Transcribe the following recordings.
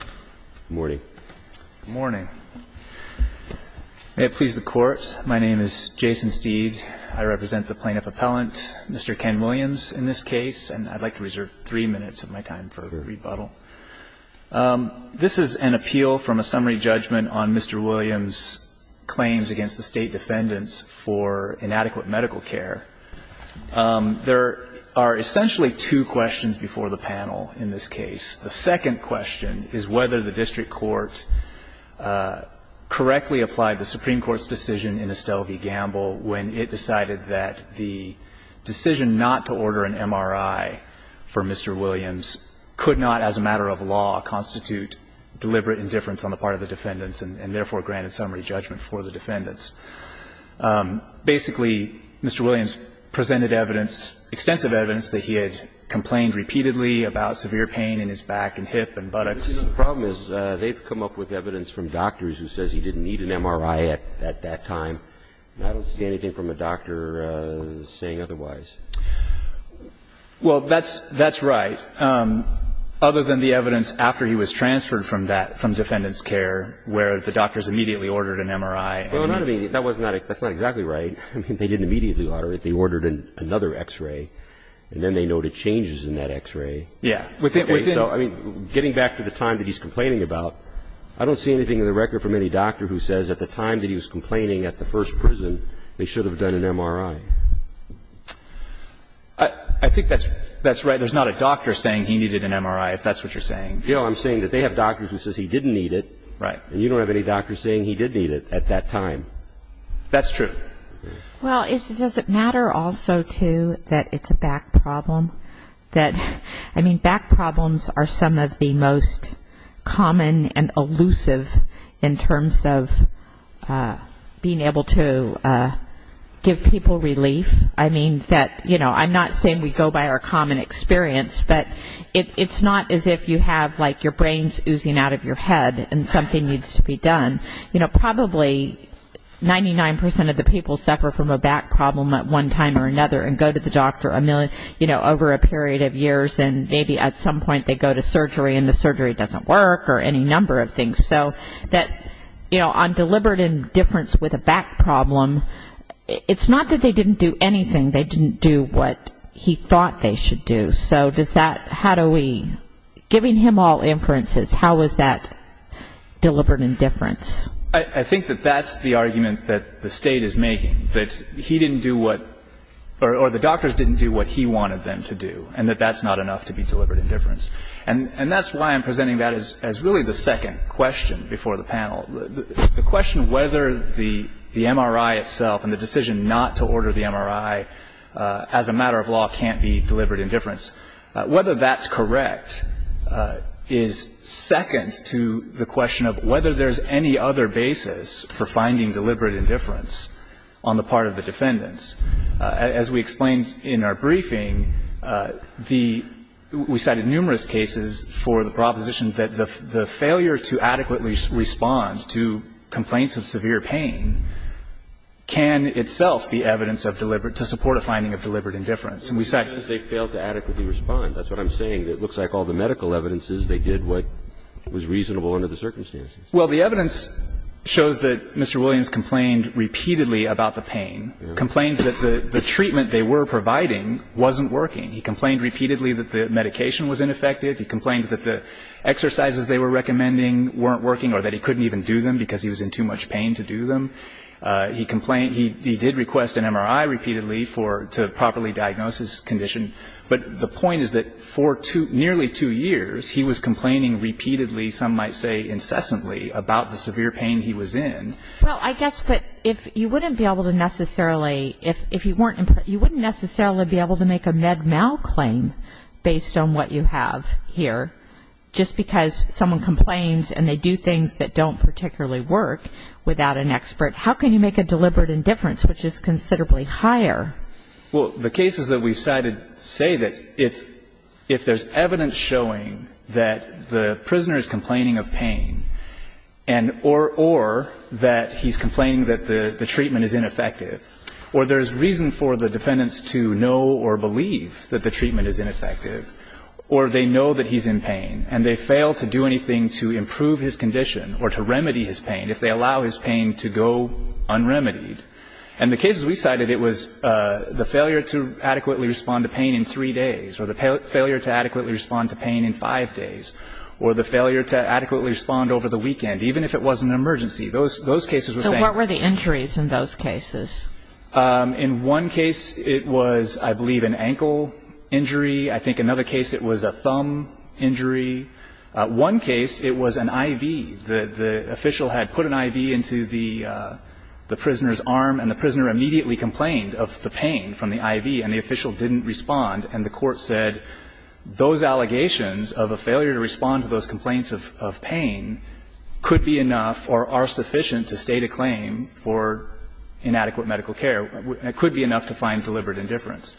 Good morning. Good morning. May it please the Court, my name is Jason Steed. I represent the Plaintiff Appellant, Mr. Ken Williams, in this case. And I'd like to reserve three minutes of my time for a rebuttal. This is an appeal from a summary judgment on Mr. Williams' claims against the State Defendants for inadequate medical care. There are essentially two questions before the panel in this case. The second question is whether the district court correctly applied the Supreme Court's decision in Estelle v. Gamble when it decided that the decision not to order an MRI for Mr. Williams could not, as a matter of law, constitute deliberate indifference on the part of the defendants and therefore granted summary judgment for the defendants. Basically, Mr. Williams presented evidence, extensive evidence, that he had complained repeatedly about severe pain in his back and hip and buttocks. The problem is they've come up with evidence from doctors who says he didn't need an MRI at that time. I don't see anything from a doctor saying otherwise. Well, that's right. Other than the evidence after he was transferred from that, from defendant's care, where the doctors immediately ordered an MRI. Well, not immediately. That's not exactly right. I mean, they didn't immediately order it. They ordered another X-ray, and then they noted changes in that X-ray. Yeah. Okay. So, I mean, getting back to the time that he's complaining about, I don't see anything in the record from any doctor who says at the time that he was complaining at the first prison, they should have done an MRI. I think that's right. There's not a doctor saying he needed an MRI, if that's what you're saying. You know, I'm saying that they have doctors who says he didn't need it. Right. You don't have any doctors saying he did need it at that time. That's true. Well, does it matter also, too, that it's a back problem? That, I mean, back problems are some of the most common and elusive in terms of being able to give people relief. I mean, that, you know, I'm not saying we go by our common experience, but it's not as if you have, like, your brain's oozing out of your head and something needs to be done. You know, probably 99% of the people suffer from a back problem at one time or another and go to the doctor, you know, over a period of years, and maybe at some point they go to surgery and the surgery doesn't work or any number of things. So that, you know, on deliberate indifference with a back problem, it's not that they didn't do anything. They didn't do what he thought they should do. So does that, how do we, giving him all inferences, how is that deliberate indifference? I think that that's the argument that the State is making, that he didn't do what, or the doctors didn't do what he wanted them to do, and that that's not enough to be deliberate indifference. And that's why I'm presenting that as really the second question before the panel, the question whether the MRI itself and the decision not to order the defendants, whether that's correct, is second to the question of whether there's any other basis for finding deliberate indifference on the part of the defendants. As we explained in our briefing, the, we cited numerous cases for the proposition that the failure to adequately respond to complaints of severe pain can itself be evidence of deliberate, to support a finding of deliberate indifference. And we cite- They failed to adequately respond. That's what I'm saying. It looks like all the medical evidences, they did what was reasonable under the circumstances. Well, the evidence shows that Mr. Williams complained repeatedly about the pain, complained that the treatment they were providing wasn't working. He complained repeatedly that the medication was ineffective. He complained that the exercises they were recommending weren't working or that he couldn't even do them because he was in too much pain to do them. He complained, he did request an MRI repeatedly for, to properly diagnose his condition. But the point is that for two, nearly two years, he was complaining repeatedly, some might say incessantly, about the severe pain he was in. Well, I guess, but if you wouldn't be able to necessarily, if you weren't, you wouldn't necessarily be able to make a med mal claim based on what you have here just because someone complains and they do things that don't particularly work without an expert, how can you make a deliberate indifference, which is considerably higher? Well, the cases that we've cited say that if there's evidence showing that the prisoner is complaining of pain and or that he's complaining that the treatment is ineffective or there's reason for the defendants to know or believe that the treatment is ineffective or they know that he's in pain and they fail to do anything to improve his condition or to remedy his pain if they allow his pain to go un-remedied. And the cases we cited, it was the failure to adequately respond to pain in three days or the failure to adequately respond to pain in five days or the failure to adequately respond over the weekend, even if it was an emergency. Those cases were saying... So what were the injuries in those cases? In one case it was, I believe, an ankle injury. I think another case it was a thumb injury. One case it was an IV. The official had put an IV into the prisoner's arm and the prisoner immediately complained of the pain from the IV and the official didn't respond and the court said those allegations of a failure to respond to those complaints of pain could be enough or are sufficient to state a claim for inadequate medical care. It could be enough to find deliberate indifference.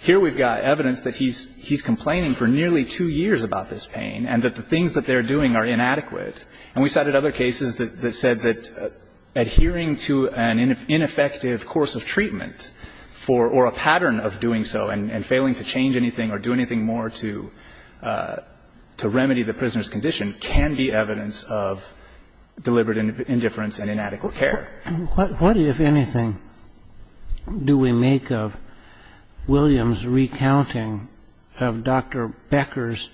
Here we've got evidence that he's complaining for nearly two years about this pain and that the things that they're doing are inadequate. And we cited other cases that said that adhering to an ineffective course of treatment or a pattern of doing so and failing to change anything or do anything more to remedy the prisoner's condition can be evidence of deliberate indifference and inadequate care. What, if anything, do we make of Williams' recounting of Dr. Becker's,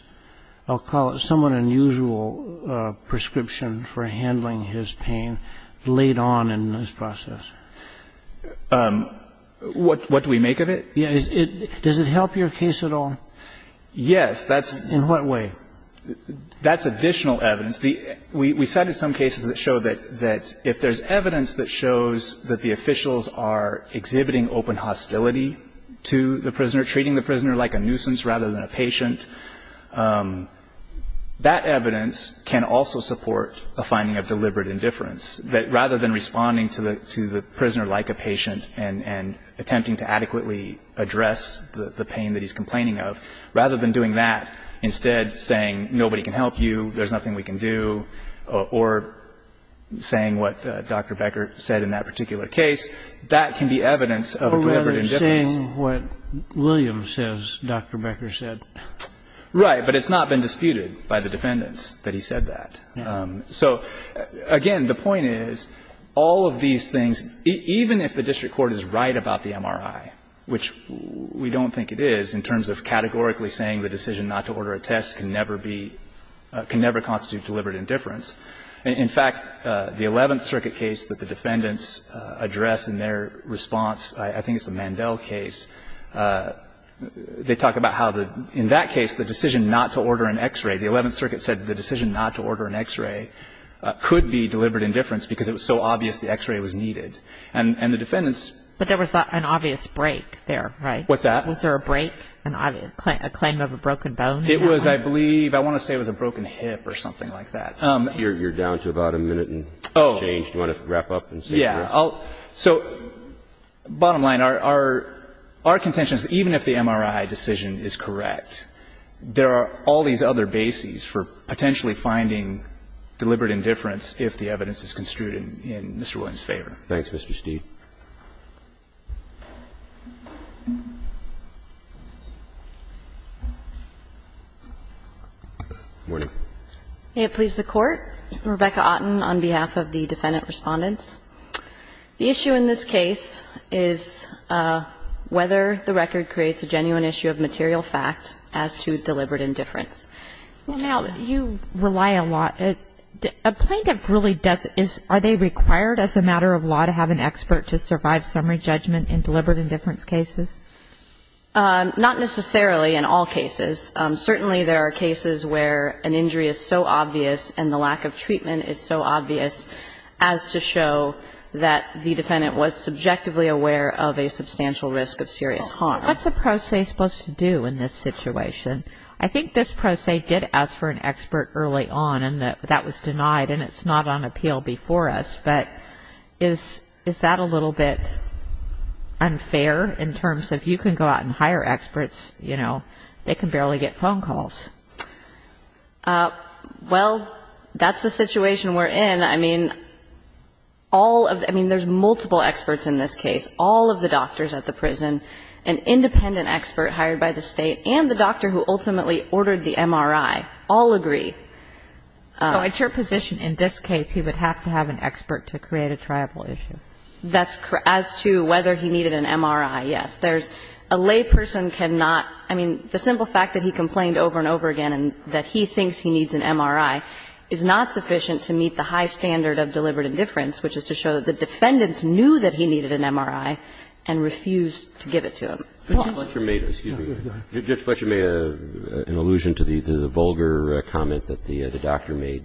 I'll call it somewhat unusual, prescription for handling his pain late on in this process? What do we make of it? Does it help your case at all? Yes, that's... In what way? That's additional evidence. We cited some cases that show that if there's evidence that shows that the officials are exhibiting open hostility to the prisoner, treating the prisoner like a nuisance rather than a patient, that evidence can also support a finding of deliberate indifference, that rather than responding to the prisoner like a patient and attempting to adequately address the pain that he's complaining of, rather than doing that, instead saying nobody can help you, there's nothing we can do, or saying what Dr. Becker said in that particular case, that can be evidence of deliberate indifference. Or rather saying what Williams says Dr. Becker said. Right. But it's not been disputed by the defendants that he said that. So, again, the point is all of these things, even if the district court is right about the MRI, which we don't think it is in terms of categorically saying the decision not to order a test can never be, can never constitute deliberate indifference. In fact, the Eleventh Circuit case that the defendants address in their response, I think it's the Mandel case, they talk about how in that case the decision not to order an X-ray, the Eleventh Circuit said the decision not to order an X-ray could be deliberate indifference because it was so obvious the X-ray was needed. And the defendants ---- But there was an obvious break there, right? What's that? Was there a break, a claim of a broken bone? It was, I believe, I want to say it was a broken hip or something like that. You're down to about a minute and change. Do you want to wrap up and say? Yeah. So bottom line, our contention is even if the MRI decision is correct, there are all these other bases for potentially finding deliberate indifference if the evidence is construed in Mr. Williams' favor. Thanks, Mr. Steeve. May it please the Court. Rebecca Otten on behalf of the defendant respondents. The issue in this case is whether the record creates a genuine issue of material fact as to deliberate indifference. Now, you rely a lot. A plaintiff really doesn't. Are they required as a matter of law to have an expert to survive summary judgment in deliberate indifference cases? Not necessarily in all cases. Certainly there are cases where an injury is so obvious and the lack of treatment is so obvious as to show that the defendant was subjectively aware of a substantial risk of serious harm. What's the pro se supposed to do in this situation? I think this pro se did ask for an expert early on, and that was denied, and it's not on appeal before us. But is that a little bit unfair in terms of you can go out and hire experts, you know, they can barely get phone calls? Well, that's the situation we're in. I mean, all of the ‑‑ I mean, there's multiple experts in this case. All of the doctors at the prison, an independent expert hired by the State, and the doctor who ultimately ordered the MRI all agree. So at your position, in this case, he would have to have an expert to create a triable issue? As to whether he needed an MRI, yes. There's a layperson cannot ‑‑ I mean, the simple fact that he complained over and over again and that he thinks he needs an MRI is not sufficient to meet the high standard of deliberate indifference, which is to show that the defendants knew that he needed an MRI and refused to give it to him. Judge Fletcher made an allusion to the vulgar comment that the doctor made.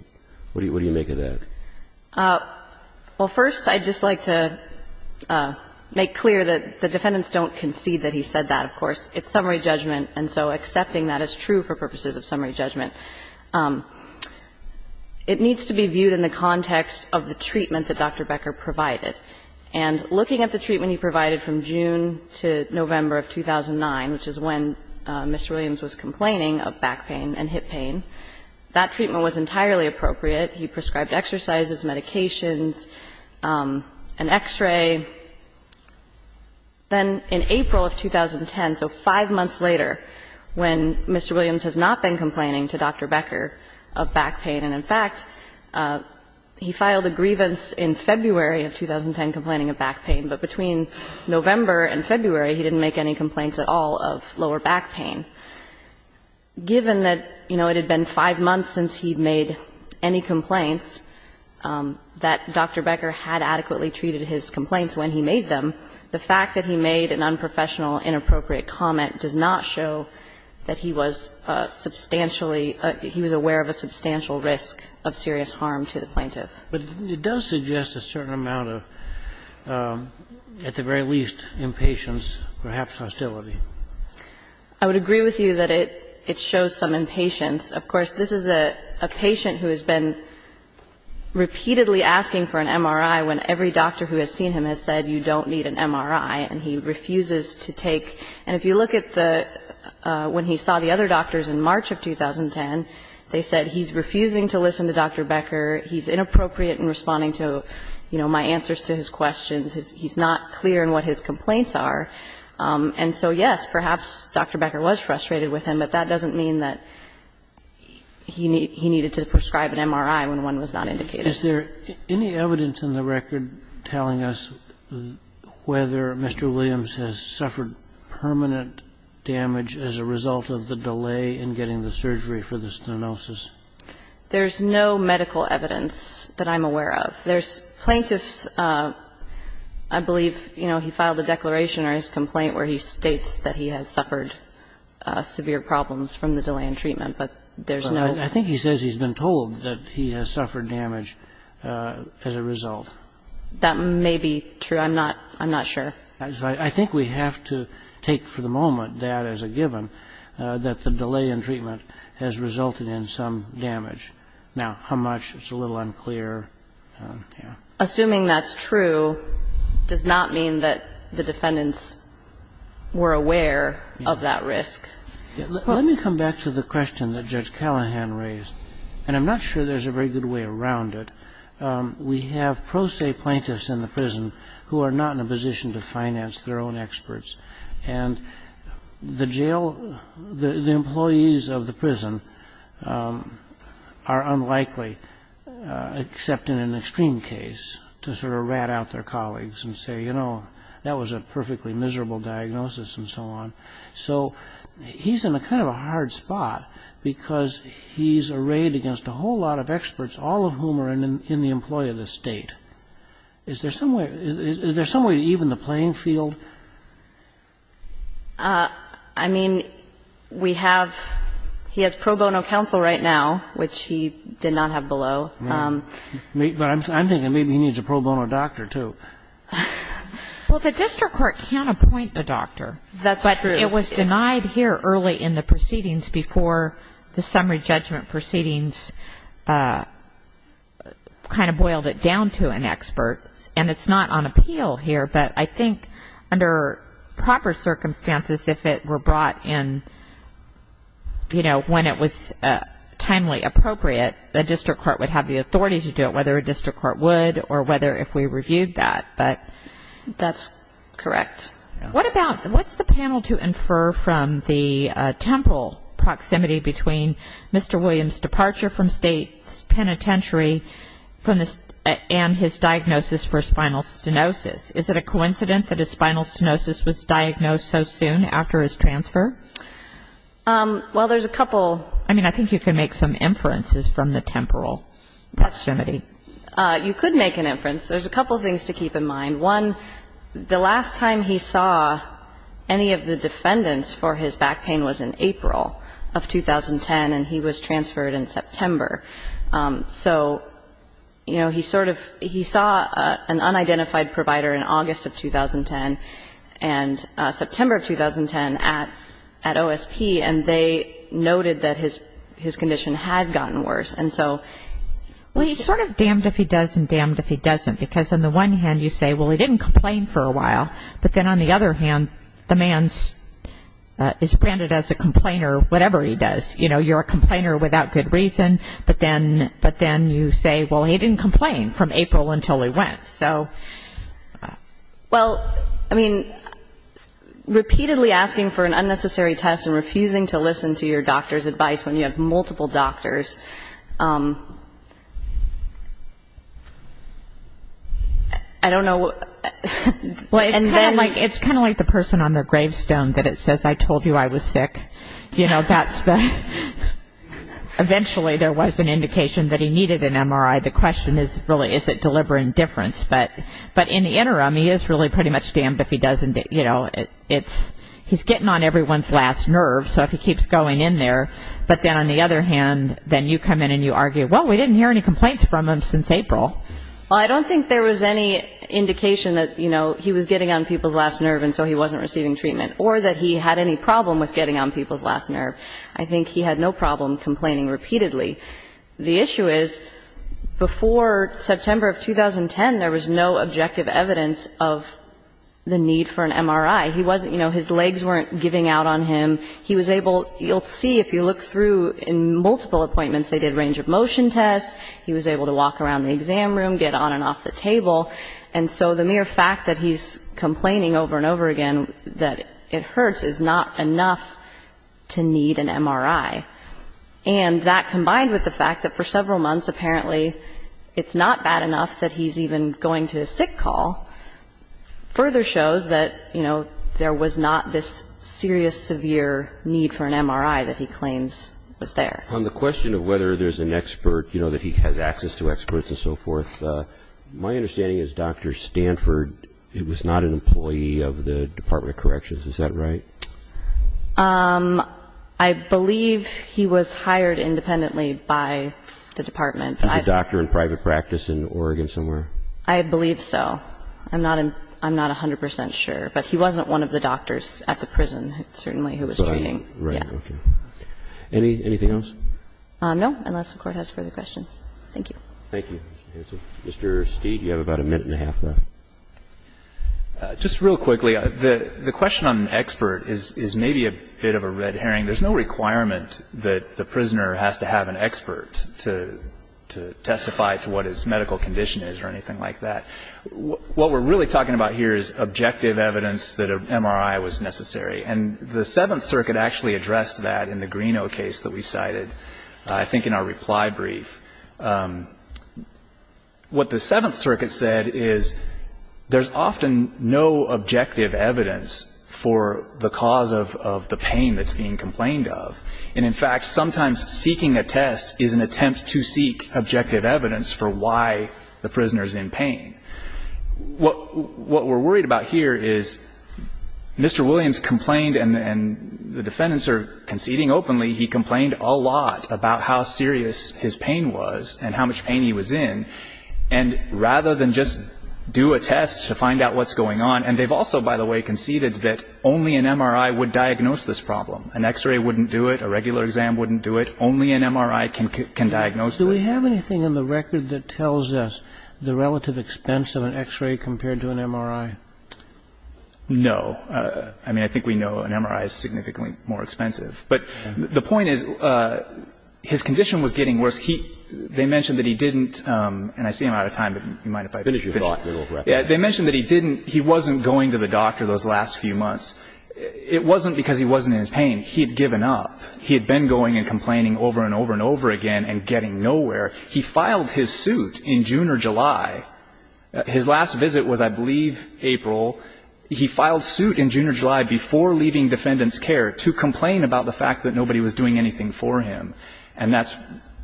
What do you make of that? Well, first, I'd just like to make clear that the defendants don't concede that he said that, of course. It's summary judgment, and so accepting that is true for purposes of summary judgment. It needs to be viewed in the context of the treatment that Dr. Becker provided. And looking at the treatment he provided from June to November of 2009, which is when Mr. Williams was complaining of back pain and hip pain, that treatment was entirely appropriate. He prescribed exercises, medications, an X-ray. Then in April of 2010, so five months later, when Mr. Williams has not been complaining to Dr. Becker of back pain, and in fact, he filed a grievance in February of 2009 that he didn't intend complaining of back pain, but between November and February he didn't make any complaints at all of lower back pain, given that, you know, it had been five months since he'd made any complaints that Dr. Becker had adequately treated his complaints when he made them, the fact that he made an unprofessional, inappropriate comment does not show that he was substantially – he was aware of a substantial risk of serious harm to the plaintiff. But it does suggest a certain amount of, at the very least, impatience, perhaps hostility. I would agree with you that it shows some impatience. Of course, this is a patient who has been repeatedly asking for an MRI when every doctor who has seen him has said you don't need an MRI, and he refuses to take. And if you look at the – when he saw the other doctors in March of 2010, they said he's refusing to listen to Dr. Becker, he's inappropriate in responding to, you know, my answers to his questions, he's not clear in what his complaints are. And so, yes, perhaps Dr. Becker was frustrated with him, but that doesn't mean that he needed to prescribe an MRI when one was not indicated. Is there any evidence in the record telling us whether Mr. Williams has suffered permanent damage as a result of the delay in getting the surgery for the stenosis? There's no medical evidence that I'm aware of. There's plaintiffs – I believe, you know, he filed a declaration or his complaint where he states that he has suffered severe problems from the delay in treatment, but there's no – I think he says he's been told that he has suffered damage as a result. That may be true. I'm not – I'm not sure. I think we have to take for the moment that as a given, that the delay in treatment has resulted in some damage. Now, how much, it's a little unclear. Assuming that's true does not mean that the defendants were aware of that risk. Let me come back to the question that Judge Callahan raised, and I'm not sure there's a very good way around it. We have pro se plaintiffs in the prison who are not in a position to finance their own experts, and the jail – the employees of the prison are unlikely, except in an extreme case, to sort of rat out their colleagues and say, you know, that was a perfectly miserable diagnosis and so on. So he's in a kind of a hard spot because he's arrayed against a whole lot of experts, all of whom are in the employee of the state. Is there some way – is there some way to even the playing field? I mean, we have – he has pro bono counsel right now, which he did not have below. Right. But I'm thinking maybe he needs a pro bono doctor, too. Well, the district court can't appoint a doctor. That's true. It was denied here early in the proceedings before the summary judgment proceedings kind of boiled it down to an expert, and it's not on appeal here. But I think under proper circumstances, if it were brought in, you know, when it was timely appropriate, the district court would have the authority to do it, whether a district court would or whether if we reviewed that. That's correct. What about – what's the panel to infer from the temporal proximity between Mr. Williams' departure from state penitentiary and his diagnosis for spinal stenosis? Is it a coincidence that his spinal stenosis was diagnosed so soon after his transfer? Well, there's a couple. I mean, I think you can make some inferences from the temporal proximity. You could make an inference. There's a couple things to keep in mind. One, the last time he saw any of the defendants for his back pain was in April of 2010, and he was transferred in September. So, you know, he sort of – he saw an unidentified provider in August of 2010 and September of 2010 at OSP, and they noted that his condition had gotten worse. And so – Well, he's sort of damned if he does and damned if he doesn't, because on the one hand you say, well, he didn't complain for a while. But then on the other hand, the man is branded as a complainer, whatever he does. You know, you're a complainer without good reason, but then you say, well, he didn't complain from April until he went. So, well, I mean, repeatedly asking for an unnecessary test and refusing to listen to your doctor's advice when you have multiple doctors, I don't know. Well, it's kind of like the person on the gravestone that it says, I told you I was sick. You know, that's the – eventually there was an indication that he needed an MRI. The question is really, is it deliberate indifference? But in the interim, he is really pretty much damned if he doesn't, you know, it's – he's getting on everyone's last nerve, so if he keeps going in there. But then on the other hand, then you come in and you argue, well, we didn't hear any complaints from him since April. Well, I don't think there was any indication that, you know, he was getting on people's last nerve and so he wasn't receiving treatment or that he had any problem with getting on people's last nerve. I think he had no problem complaining repeatedly. The issue is before September of 2010, there was no objective evidence of the need for an MRI. He wasn't – you know, his legs weren't giving out on him. He was able – you'll see if you look through in multiple appointments, they did range of motion tests. He was able to walk around the exam room, get on and off the table. And so the mere fact that he's complaining over and over again that it hurts is not enough to need an MRI. And that combined with the fact that for several months apparently it's not bad enough that he's even going to a sick call further shows that, you know, there was not this serious severe need for an MRI that he claims was there. On the question of whether there's an expert, you know, that he has access to experts and so forth, my understanding is Dr. Stanford was not an employee of the Department of Corrections. Is that right? I believe he was hired independently by the Department. Was he a doctor in private practice in Oregon somewhere? I believe so. I'm not 100 percent sure. But he wasn't one of the doctors at the prison, certainly, who was treating. Right. Okay. Anything else? No, unless the Court has further questions. Thank you. Thank you. Mr. Steed, you have about a minute and a half left. Just real quickly, the question on expert is maybe a bit of a red herring. There's no requirement that the prisoner has to have an expert to testify to what his medical condition is or anything like that. What we're really talking about here is objective evidence that an MRI was necessary. And the Seventh Circuit actually addressed that in the Greeno case that we cited, I think in our reply brief. What the Seventh Circuit said is there's often no objective evidence for the cause of the pain that's being complained of. And, in fact, sometimes seeking a test is an attempt to seek objective evidence for why the prisoner is in pain. What we're worried about here is Mr. Williams complained, and the defendants are conceding openly, he complained a lot about how serious his pain was and how much pain he was in. And rather than just do a test to find out what's going on, and they've also, by the way, conceded that only an MRI would diagnose this problem. An X-ray wouldn't do it. A regular exam wouldn't do it. Only an MRI can diagnose this. Do we have anything in the record that tells us the relative expense of an X-ray compared to an MRI? No. I mean, I think we know an MRI is significantly more expensive. But the point is his condition was getting worse. They mentioned that he didn't, and I see I'm out of time, but you mind if I finish? Finish your thought. They mentioned that he didn't, he wasn't going to the doctor those last few months. It wasn't because he wasn't in his pain. He had given up. He had been going and complaining over and over and over again and getting nowhere. He filed his suit in June or July. His last visit was, I believe, April. He filed suit in June or July before leaving defendant's care to complain about the fact that nobody was doing anything for him. And that's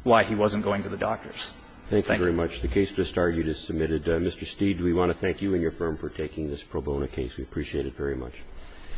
why he wasn't going to the doctors. Thank you. Thank you very much. The case just argued is submitted. Mr. Steed, we want to thank you and your firm for taking this pro bono case. We appreciate it very much.